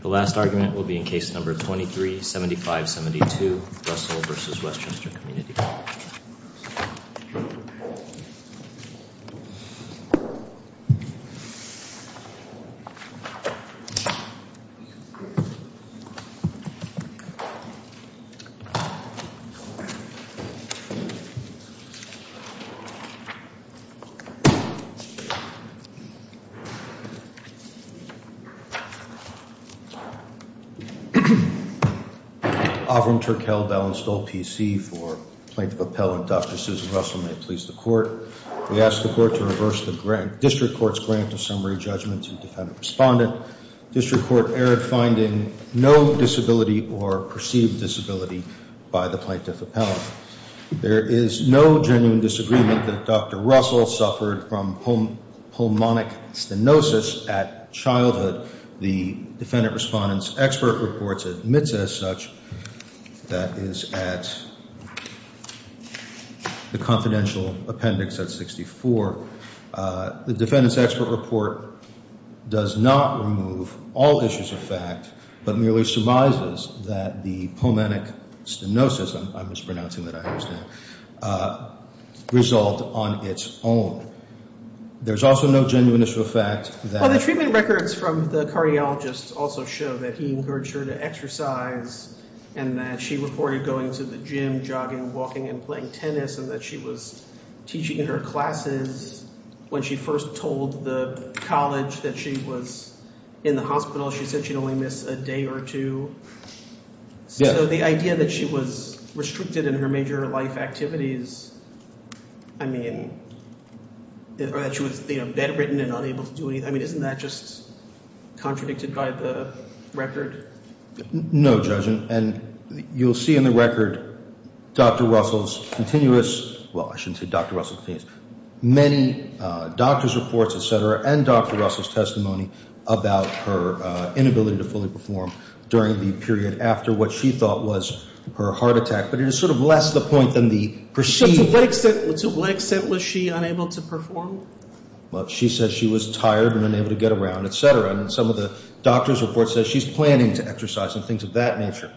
The last argument will be in Case No. 23-7572, Russell v. Westchester Community College Avram Turkel-Bell installed PC for Plaintiff Appellant Dr. Susan Russell, may it please the Court. We ask the Court to reverse the District Court's grant of summary judgment to defendant respondent. District Court erred, finding no disability or perceived disability by the Plaintiff Appellant. There is no genuine disagreement that Dr. Russell suffered from pulmonic stenosis at childhood. The defendant respondent's expert report admits as such that is at the confidential appendix at 64. The defendant's expert report does not remove all issues of fact, but merely surmises that the pulmonic stenosis, I'm mispronouncing that I understand, result on its own. There's also no genuine issue of fact that The treatment records from the cardiologist also show that he encouraged her to exercise and that she reported going to the gym, jogging, walking, and playing tennis, and that she was teaching in her classes when she first told the college that she was in the hospital. She said she'd only miss a day or two. So the idea that she was restricted in her major life activities, I mean, that she was bedridden and unable to do anything, I mean, isn't that just contradicted by the record? No, Judge, and you'll see in the record Dr. Russell's continuous, well, I shouldn't say Dr. Russell's continuous, many doctor's reports, et cetera, and Dr. Russell's testimony about her inability to fully perform during the period after what she thought was her heart attack. But it is sort of less the point than the perceived- So to what extent was she unable to perform? Well, she said she was tired and unable to get around, et cetera, and some of the doctor's reports say she's planning to exercise and things of that nature.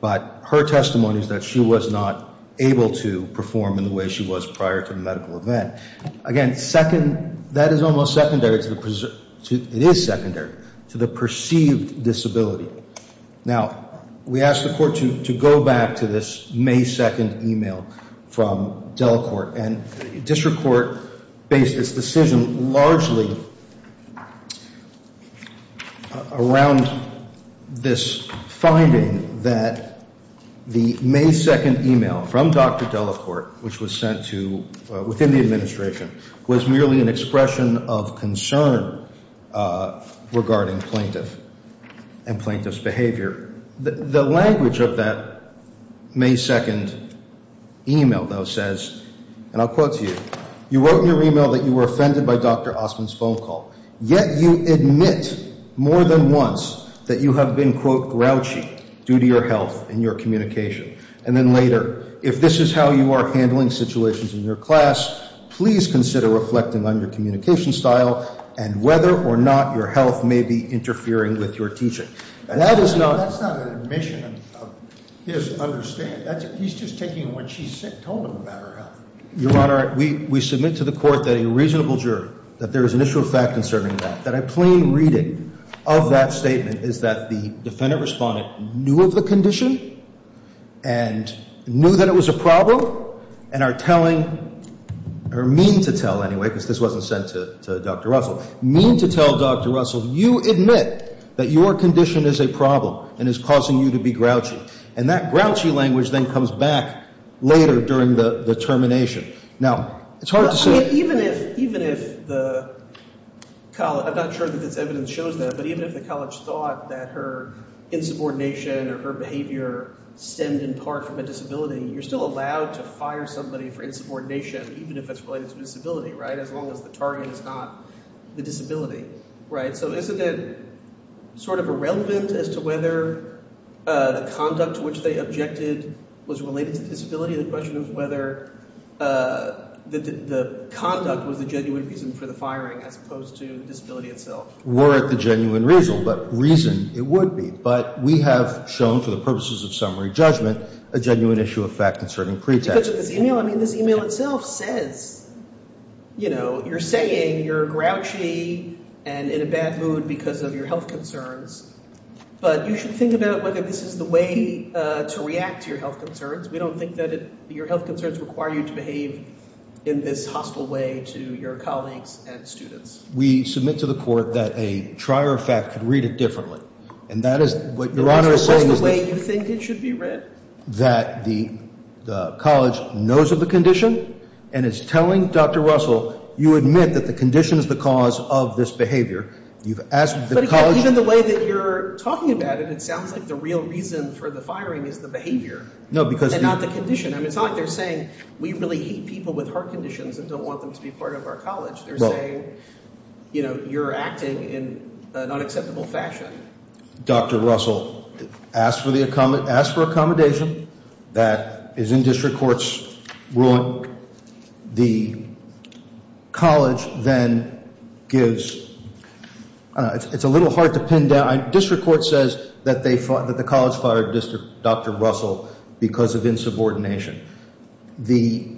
But her testimony is that she was not able to perform in the way she was prior to the medical event. Again, second, that is almost secondary to the, it is secondary to the perceived disability. Now, we asked the court to go back to this May 2nd email from Delacorte, and district court based its decision largely around this finding that the May 2nd email from Dr. Delacorte, which was sent to, within the administration, was merely an expression of concern regarding plaintiff and plaintiff's behavior. The language of that May 2nd email, though, says, and I'll quote to you, you wrote in your email that you were offended by Dr. Osmond's phone call, yet you admit more than once that you have been, quote, grouchy due to your health and your communication. And then later, if this is how you are handling situations in your class, please consider reflecting on your communication style and whether or not your health may be interfering with your teaching. That is not an admission of his understanding. He's just taking what she's told him about her health. Your Honor, we submit to the court that a reasonable juror, that there is an issue of fact concerning that, that a plain reading of that statement is that the defendant-respondent knew of the condition and knew that it was a problem and are telling, or mean to tell anyway, because this wasn't sent to Dr. Russell, mean to tell Dr. Russell, you admit that your condition is a problem and is causing you to be grouchy. And that grouchy language then comes back later during the termination. Now, it's hard to say. I mean, even if the college, I'm not sure that this evidence shows that, but even if the college thought that her insubordination or her behavior stemmed in part from a disability, you're still allowed to fire somebody for insubordination even if it's related to a disability, right, as long as the target is not the disability, right? So isn't it sort of irrelevant as to whether the conduct to which they objected was related to disability? The question is whether the conduct was the genuine reason for the firing as opposed to the disability itself. We're at the genuine reason, but reason it would be. But we have shown for the purposes of summary judgment a genuine issue of fact concerning pretext. Judge, this e-mail, I mean, this e-mail itself says, you know, you're saying you're grouchy and in a bad mood because of your health concerns, but you should think about whether this is the way to react to your health concerns. We don't think that your health concerns require you to behave in this hostile way to your colleagues and students. We submit to the court that a trier of fact could read it differently, and that is what Your Honor is saying. Is this the way you think it should be read? That the college knows of the condition and is telling Dr. Russell, you admit that the condition is the cause of this behavior. You've asked the college— But even the way that you're talking about it, it sounds like the real reason for the firing is the behavior. No, because— And not the condition. I mean, it's not like they're saying we really hate people with heart conditions and don't want them to be part of our college. They're saying, you know, you're acting in an unacceptable fashion. Dr. Russell asked for accommodation. That is in district court's ruling. The college then gives—it's a little hard to pin down. District court says that the college fired Dr. Russell because of insubordination. The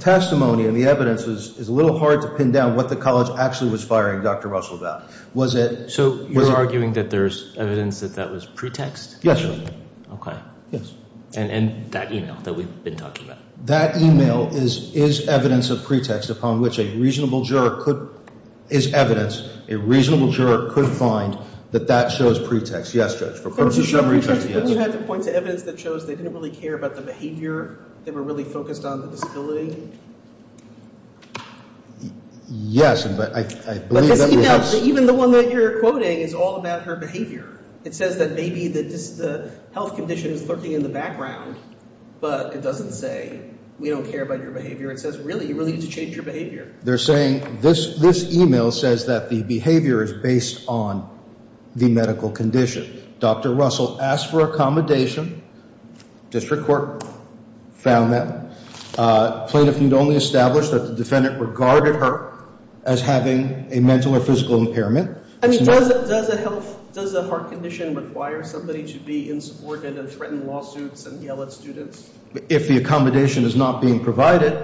testimony and the evidence is a little hard to pin down what the college actually was firing Dr. Russell about. Was it— So you're arguing that there's evidence that that was pretext? Yes, Your Honor. Okay. Yes. And that email that we've been talking about? That email is evidence of pretext upon which a reasonable juror could—is evidence a reasonable juror could find that that shows pretext. Yes, Judge. For purpose of summary, yes. But you had to point to evidence that shows they didn't really care about the behavior? They were really focused on the disability? Yes. But this email, even the one that you're quoting, is all about her behavior. It says that maybe the health condition is lurking in the background, but it doesn't say we don't care about your behavior. It says really, you really need to change your behavior. They're saying this email says that the behavior is based on the medical condition. Dr. Russell asked for accommodation. District court found that. Plaintiff need only establish that the defendant regarded her as having a mental or physical impairment. I mean, does a health—does a heart condition require somebody to be insupported and threaten lawsuits and yell at students? If the accommodation is not being provided,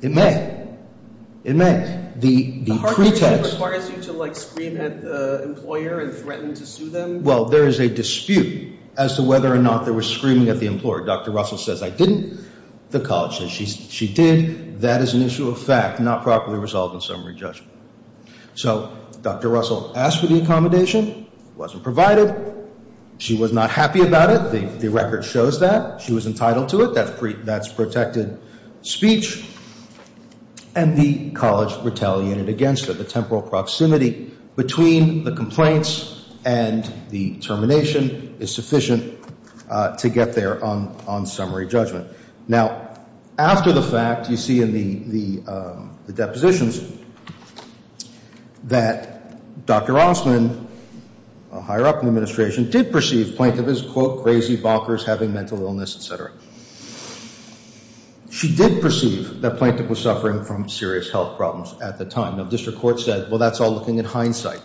it may. It may. The pretext— The heart condition requires you to, like, scream at the employer and threaten to sue them? Well, there is a dispute as to whether or not there was screaming at the employer. Dr. Russell says, I didn't. The college says, she did. That is an issue of fact, not properly resolved in summary judgment. So Dr. Russell asked for the accommodation. It wasn't provided. She was not happy about it. The record shows that. She was entitled to it. That's protected speech. And the college retaliated against her. between the complaints and the termination is sufficient to get there on summary judgment. Now, after the fact, you see in the depositions that Dr. Rossman, higher up in the administration, did perceive plaintiff as, quote, crazy, bonkers, having mental illness, et cetera. She did perceive that plaintiff was suffering from serious health problems at the time. Now, district court said, well, that's all looking at hindsight.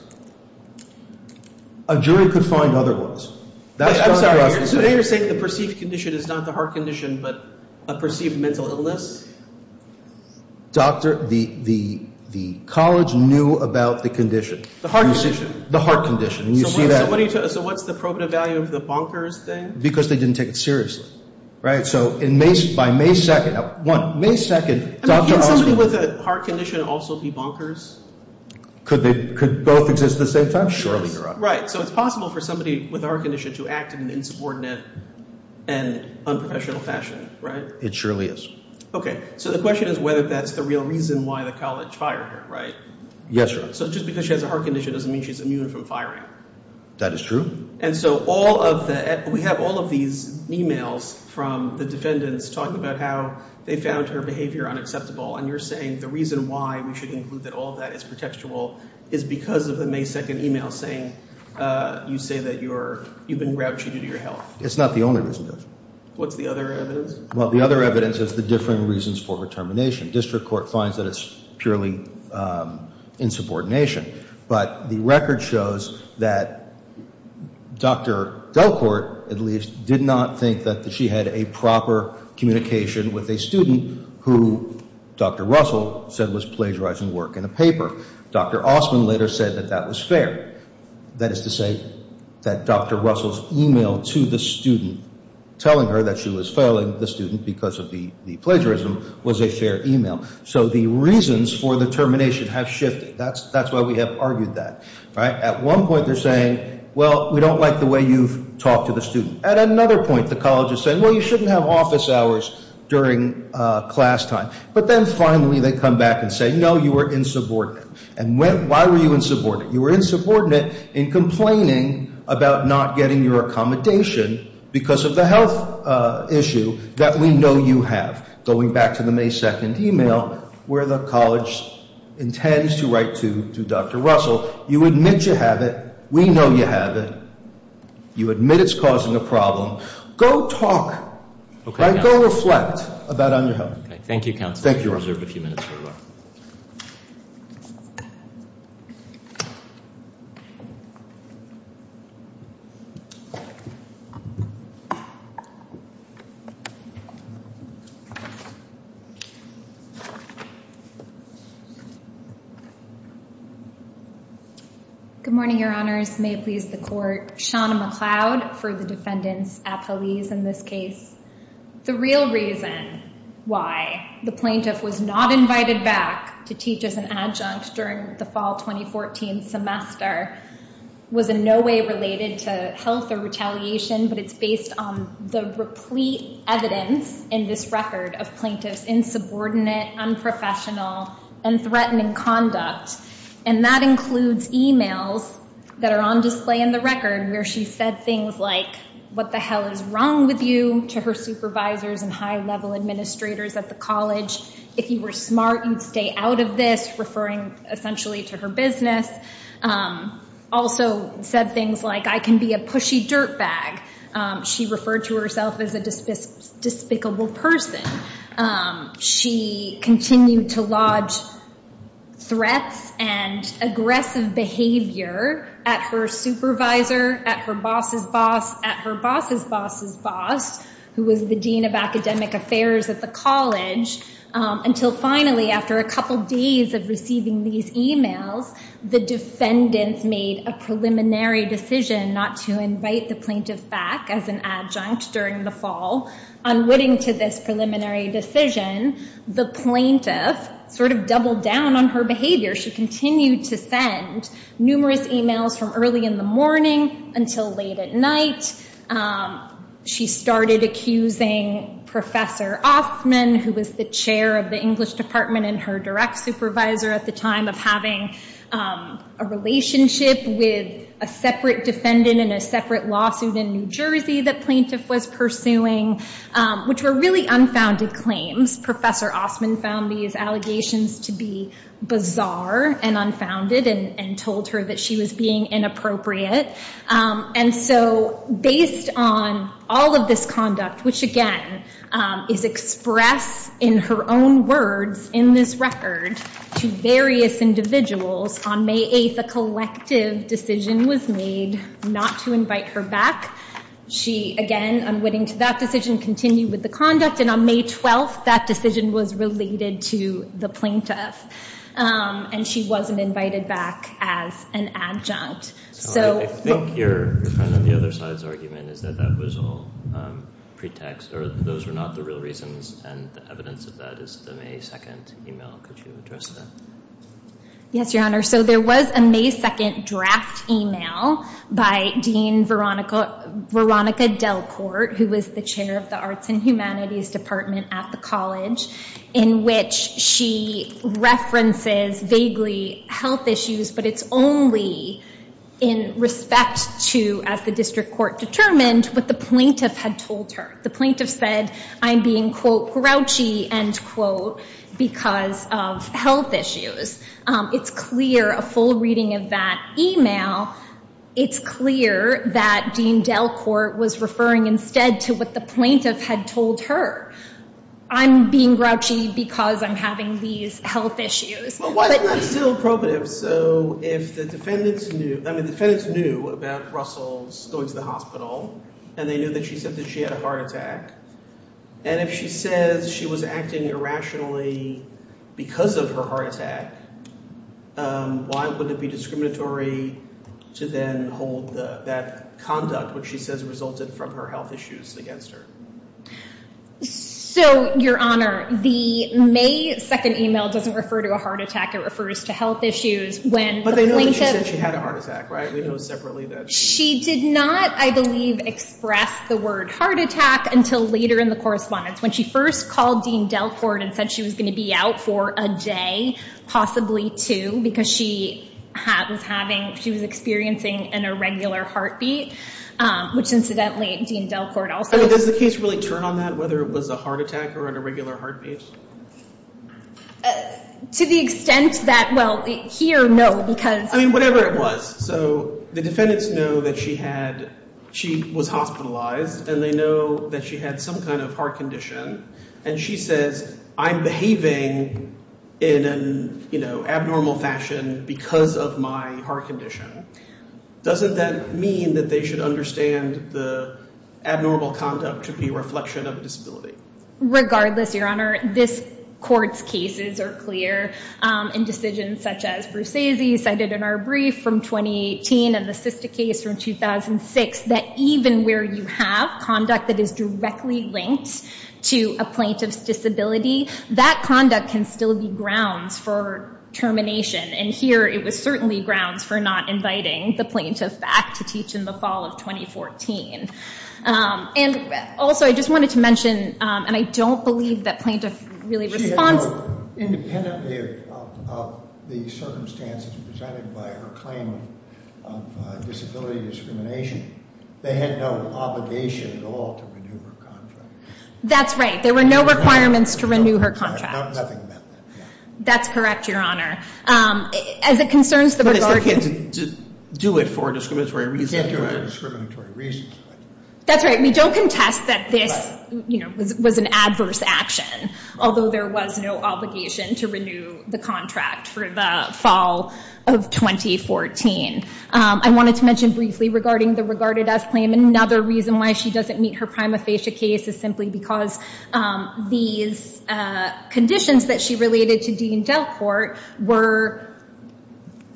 A jury could find other ones. I'm sorry. So you're saying the perceived condition is not the heart condition but a perceived mental illness? Doctor, the college knew about the condition. The heart condition. The heart condition. And you see that. So what's the probative value of the bonkers thing? Because they didn't take it seriously. Right? So by May 2nd, one, May 2nd, Dr. Rossman. Can somebody with a heart condition also be bonkers? Could they both exist at the same time? Surely, Your Honor. Right. So it's possible for somebody with a heart condition to act in an insubordinate and unprofessional fashion, right? It surely is. Okay. So the question is whether that's the real reason why the college fired her, right? Yes, Your Honor. So just because she has a heart condition doesn't mean she's immune from firing. That is true. And so all of the we have all of these e-mails from the defendants talking about how they found her behavior unacceptable. And you're saying the reason why we should include that all of that is protectable is because of the May 2nd e-mail saying you say that you've been grouchy due to your health. It's not the only reason, Judge. What's the other evidence? Well, the other evidence is the differing reasons for her termination. District Court finds that it's purely insubordination. But the record shows that Dr. Delcourt, at least, did not think that she had a proper communication with a student who Dr. Russell said was plagiarizing work in a paper. Dr. Osman later said that that was fair. That is to say that Dr. Russell's e-mail to the student telling her that she was failing the student because of the plagiarism was a fair e-mail. So the reasons for the termination have shifted. That's why we have argued that. At one point, they're saying, well, we don't like the way you've talked to the student. At another point, the college is saying, well, you shouldn't have office hours during class time. But then finally they come back and say, no, you were insubordinate. And why were you insubordinate? You were insubordinate in complaining about not getting your accommodation because of the health issue that we know you have, going back to the May 2nd e-mail where the college intends to write to Dr. Russell. You admit you have it. We know you have it. You admit it's causing a problem. Go talk. Go reflect about on your health. Thank you, counsel. Thank you. We'll reserve a few minutes. Good morning, your honors. May it please the court. Sean McCloud for the defendants at police in this case. The real reason why the plaintiff was not invited back to teach as an adjunct during the fall 2014 semester was in no way related to health or retaliation, but it's based on the replete evidence in this record of plaintiffs' insubordinate, unprofessional, and threatening conduct. And that includes e-mails that are on display in the record where she said things like, what the hell is wrong with you, to her supervisors and high-level administrators at the college. If you were smart, you'd stay out of this, referring essentially to her business. Also said things like, I can be a pushy dirtbag. She referred to herself as a despicable person. She continued to lodge threats and aggressive behavior at her supervisor, at her boss's boss, at her boss's boss's boss, who was the dean of academic affairs at the college, until finally, after a couple days of receiving these e-mails, the defendants made a preliminary decision not to invite the plaintiff back as an adjunct during the fall. Unwitting to this preliminary decision, the plaintiff sort of doubled down on her behavior. She continued to send numerous e-mails from early in the morning until late at night. She started accusing Professor Ostman, who was the chair of the English department and her direct supervisor at the time, of having a relationship with a separate defendant in a separate lawsuit in New Jersey that plaintiff was pursuing, which were really unfounded claims. Professor Ostman found these allegations to be bizarre and unfounded and told her that she was being inappropriate. And so based on all of this conduct, which, again, is expressed in her own words in this record to various individuals, on May 8, a collective decision was made not to invite her back. She, again, unwitting to that decision, continued with the conduct. And on May 12, that decision was related to the plaintiff, and she wasn't invited back as an adjunct. So I think your kind of the other side's argument is that that was all pretext, or those were not the real reasons, and the evidence of that is the May 2 email. Could you address that? Yes, Your Honor. So there was a May 2 draft email by Dean Veronica Delcourt, who was the chair of the Arts and Humanities department at the college, in which she references vaguely health issues, but it's only in respect to, as the district court determined, what the plaintiff had told her. The plaintiff said, I'm being, quote, grouchy, end quote, because of health issues. It's clear, a full reading of that email, it's clear that Dean Delcourt was referring instead to what the plaintiff had told her. I'm being grouchy because I'm having these health issues. Well, why is that still appropriate? So if the defendants knew, I mean, the defendants knew about Russell's going to the hospital, and they knew that she said that she had a heart attack, and if she says she was acting irrationally because of her heart attack, why would it be discriminatory to then hold that conduct, which she says resulted from her health issues, against her? So, Your Honor, the May 2nd email doesn't refer to a heart attack. It refers to health issues when the plaintiff- But they know that she said she had a heart attack, right? We know separately that- She did not, I believe, express the word heart attack until later in the correspondence, when she first called Dean Delcourt and said she was going to be out for a day, possibly two, because she was experiencing an irregular heartbeat, which, incidentally, Dean Delcourt also- I mean, does the case really turn on that, whether it was a heart attack or an irregular heartbeat? To the extent that, well, here, no, because- I mean, whatever it was. So the defendants know that she was hospitalized, and they know that she had some kind of heart condition, and she says, I'm behaving in an abnormal fashion because of my heart condition. Doesn't that mean that they should understand the abnormal conduct should be a reflection of disability? Regardless, Your Honor, this court's cases are clear. And decisions such as Bruce Aziz cited in our brief from 2018 and the Sista case from 2006, that even where you have conduct that is directly linked to a plaintiff's disability, that conduct can still be grounds for termination. And here, it was certainly grounds for not inviting the plaintiff back to teach in the fall of 2014. And also, I just wanted to mention, and I don't believe that plaintiff really responds- She had no- independently of the circumstances presented by her claim of disability discrimination, they had no obligation at all to renew her contract. That's right. There were no requirements to renew her contract. Nothing meant that, yeah. That's correct, Your Honor. As it concerns the- But it's okay to do it for a discriminatory reason. That's right. We don't contest that this was an adverse action, although there was no obligation to renew the contract for the fall of 2014. I wanted to mention briefly regarding the regarded as claim. Another reason why she doesn't meet her prima facie case is simply because these conditions that she related to Dean Delcourt were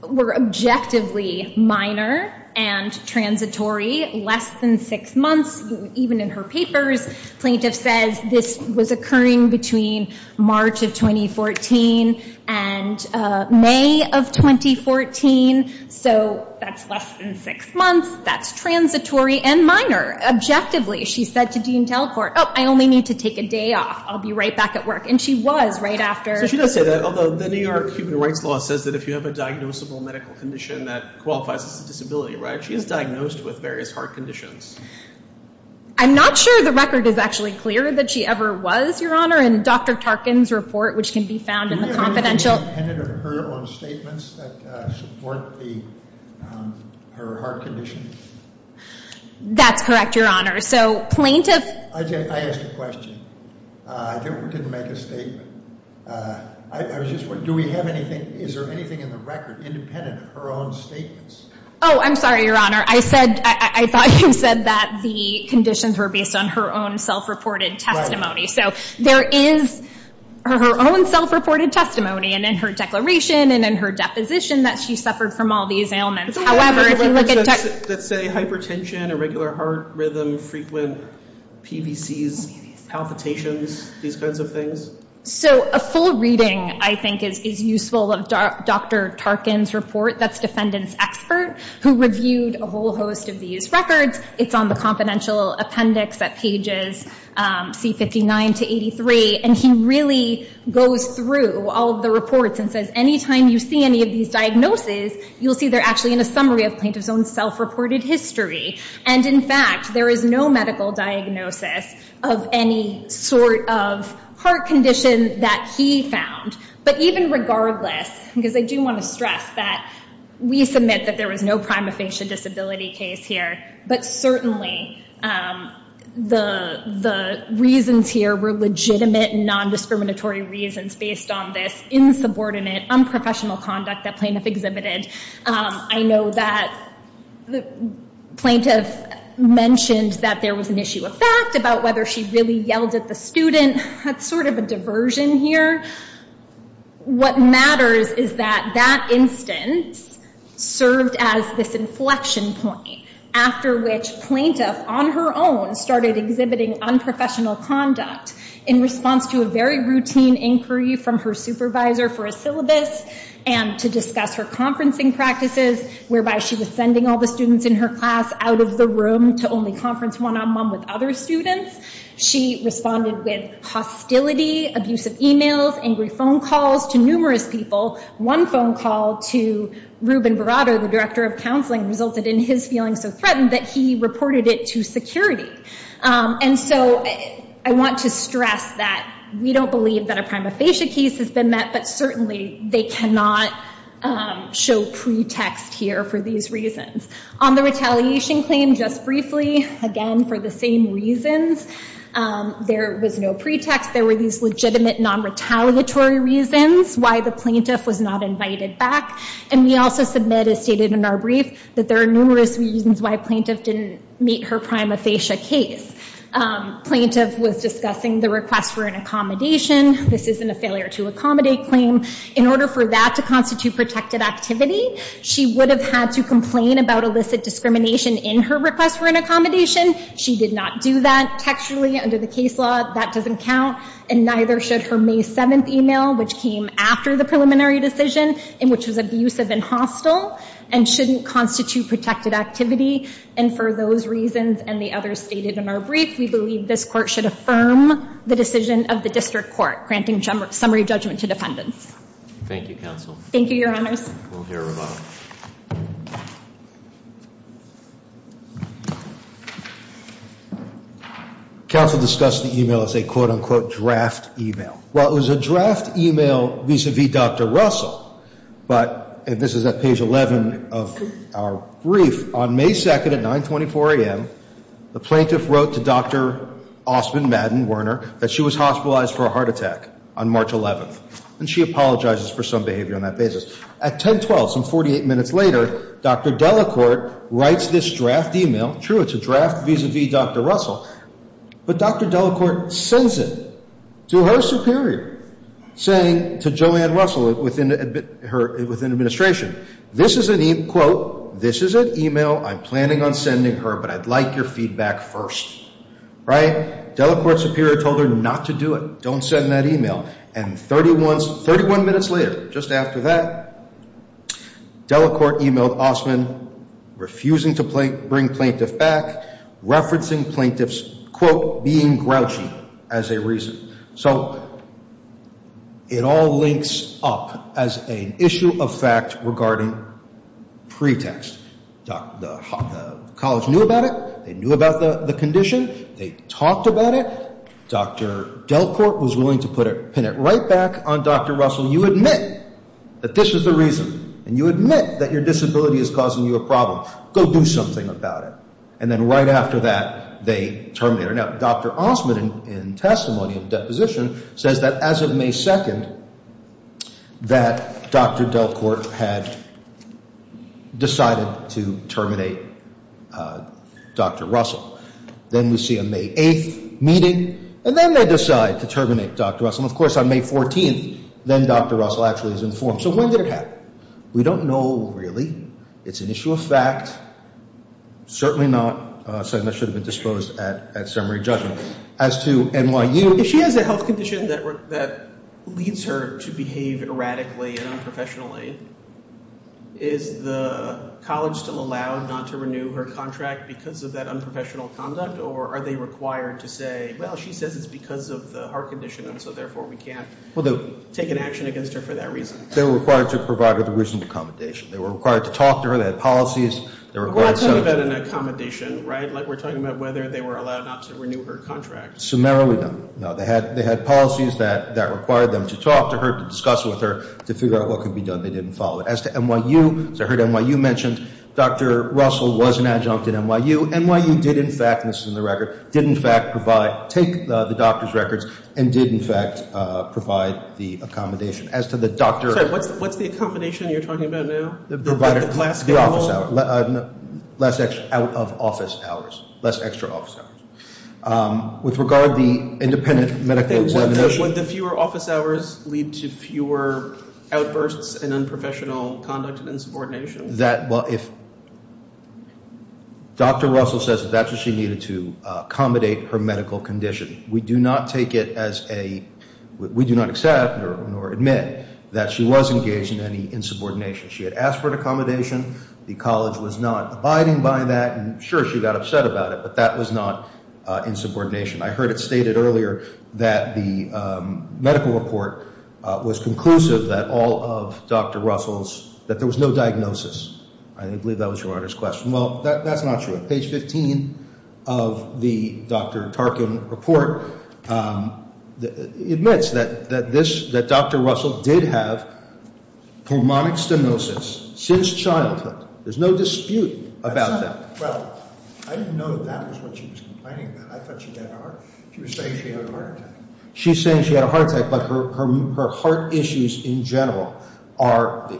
objectively minor and transitory, less than six months. Even in her papers, plaintiff says this was occurring between March of 2014 and May of 2014. So that's less than six months. That's transitory and minor. Objectively, she said to Dean Delcourt, oh, I only need to take a day off. I'll be right back at work. And she was right after- So she does say that, although the New York Human Rights Law says that if you have a diagnosable medical condition that qualifies as a disability, right? She is diagnosed with various heart conditions. I'm not sure the record is actually clear that she ever was, Your Honor. In Dr. Tarkin's report, which can be found in the confidential- Her heart condition? That's correct, Your Honor. So plaintiff- I asked a question. I didn't make a statement. I was just wondering, do we have anything, is there anything in the record independent of her own statements? Oh, I'm sorry, Your Honor. I said, I thought you said that the conditions were based on her own self-reported testimony. So there is her own self-reported testimony. And in her declaration and in her deposition that she suffered from all these ailments. However, if you look at- Let's say hypertension, irregular heart rhythm, frequent PVCs, palpitations, these kinds of things. So a full reading, I think, is useful of Dr. Tarkin's report. That's defendant's expert who reviewed a whole host of these records. It's on the confidential appendix at pages C59 to 83. And he really goes through all of the reports and says, anytime you see any of these diagnoses, you'll see they're actually in a summary of plaintiff's own self-reported history. And, in fact, there is no medical diagnosis of any sort of heart condition that he found. But even regardless, because I do want to stress that we submit that there was no prima facie disability case here. But certainly the reasons here were legitimate and non-discriminatory reasons based on this insubordinate, unprofessional conduct that plaintiff exhibited. I know that the plaintiff mentioned that there was an issue of fact about whether she really yelled at the student. That's sort of a diversion here. What matters is that that instance served as this inflection point, after which plaintiff, on her own, started exhibiting unprofessional conduct in response to a very routine inquiry from her supervisor for a syllabus and to discuss her conferencing practices, whereby she was sending all the students in her class out of the room to only conference one-on-one with other students. She responded with hostility, abusive emails, angry phone calls to numerous people. One phone call to Ruben Verado, the director of counseling, resulted in his feeling so threatened that he reported it to security. And so I want to stress that we don't believe that a prima facie case has been met, but certainly they cannot show pretext here for these reasons. On the retaliation claim, just briefly, again, for the same reasons. There was no pretext. There were these legitimate, non-retaliatory reasons why the plaintiff was not invited back. And we also submit, as stated in our brief, that there are numerous reasons why plaintiff didn't meet her prima facie case. Plaintiff was discussing the request for an accommodation. This isn't a failure to accommodate claim. In order for that to constitute protected activity, she would have had to complain about illicit discrimination in her request for an accommodation. She did not do that textually under the case law. That doesn't count. And neither should her May 7th email, which came after the preliminary decision and which was abusive and hostile, and shouldn't constitute protected activity. And for those reasons and the others stated in our brief, we believe this court should affirm the decision of the district court, granting summary judgment to defendants. Thank you, Counsel. Thank you, Your Honors. We'll hear from her. Counsel discussed the email as a quote-unquote draft email. Well, it was a draft email vis-a-vis Dr. Russell, but this is at page 11 of our brief. On May 2nd at 924 a.m., the plaintiff wrote to Dr. Osmond Madden Werner that she was hospitalized for a heart attack on March 11th, and she apologizes for some behavior on that basis. At 1012, some 48 minutes later, Dr. Delacorte writes this draft email. True, it's a draft vis-a-vis Dr. Russell, but Dr. Delacorte sends it to her superior saying to Joanne Russell within administration, this is an email, I'm planning on sending her, but I'd like your feedback first. Right? Delacorte's superior told her not to do it, don't send that email. And 31 minutes later, just after that, Delacorte emailed Osmond refusing to bring plaintiff back, referencing plaintiff's quote being grouchy as a reason. So it all links up as an issue of fact regarding pretext. The college knew about it. They knew about the condition. They talked about it. Dr. Delacorte was willing to pin it right back on Dr. Russell. You admit that this is the reason, and you admit that your disability is causing you a problem. Go do something about it. And then right after that, they terminate her. Now, Dr. Osmond, in testimony of deposition, says that as of May 2nd, that Dr. Delacorte had decided to terminate Dr. Russell. Then we see a May 8th meeting, and then they decide to terminate Dr. Russell. And, of course, on May 14th, then Dr. Russell actually is informed. So when did it happen? We don't know really. It's an issue of fact. Certainly not something that should have been disposed at summary judgment. As to NYU. If she has a health condition that leads her to behave erratically and unprofessionally, is the college still allowed not to renew her contract because of that unprofessional conduct, or are they required to say, well, she says it's because of the heart condition, and so therefore we can't take an action against her for that reason? They were required to provide her the reasonable accommodation. They were required to talk to her. They had policies. They were required. But we're not talking about an accommodation, right? Like we're talking about whether they were allowed not to renew her contract. Summarily, no. No, they had policies that required them to talk to her, to discuss with her, to figure out what could be done. They didn't follow it. As to NYU, as I heard NYU mentioned, Dr. Russell was an adjunct at NYU. NYU did, in fact, and this is in the record, did, in fact, provide, take the doctor's records and did, in fact, provide the accommodation. As to the doctor. I'm sorry. What's the accommodation you're talking about now? The provider. The class. The office hours. Less out of office hours. Less extra office hours. With regard to the independent medical examination. Would the fewer office hours lead to fewer outbursts and unprofessional conduct and insubordination? That, well, if Dr. Russell says that that's what she needed to accommodate her medical condition, we do not take it as a, we do not accept or admit that she was engaged in any insubordination. She had asked for an accommodation. The college was not abiding by that. And, sure, she got upset about it, but that was not insubordination. I heard it stated earlier that the medical report was conclusive that all of Dr. Russell's, that there was no diagnosis. I believe that was your Honor's question. Well, that's not true. Page 15 of the Dr. Tarkin report admits that Dr. Russell did have pulmonic stenosis since childhood. There's no dispute about that. Well, I didn't know that that was what she was complaining about. I thought she had a heart. She was saying she had a heart attack. She's saying she had a heart attack, but her heart issues in general are,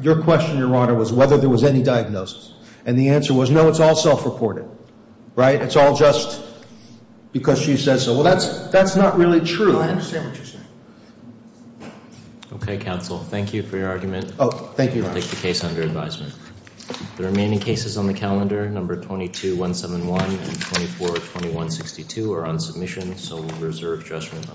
your question, Your Honor, was whether there was any diagnosis. And the answer was, no, it's all self-reported. Right? It's all just because she says so. Well, that's not really true. No, I understand what you're saying. Okay, counsel. Thank you for your argument. Oh, thank you, Your Honor. I'll take the case under advisement. The remaining cases on the calendar, number 22-171 and 24-2162 are on submission, so we'll reserve judgment on those.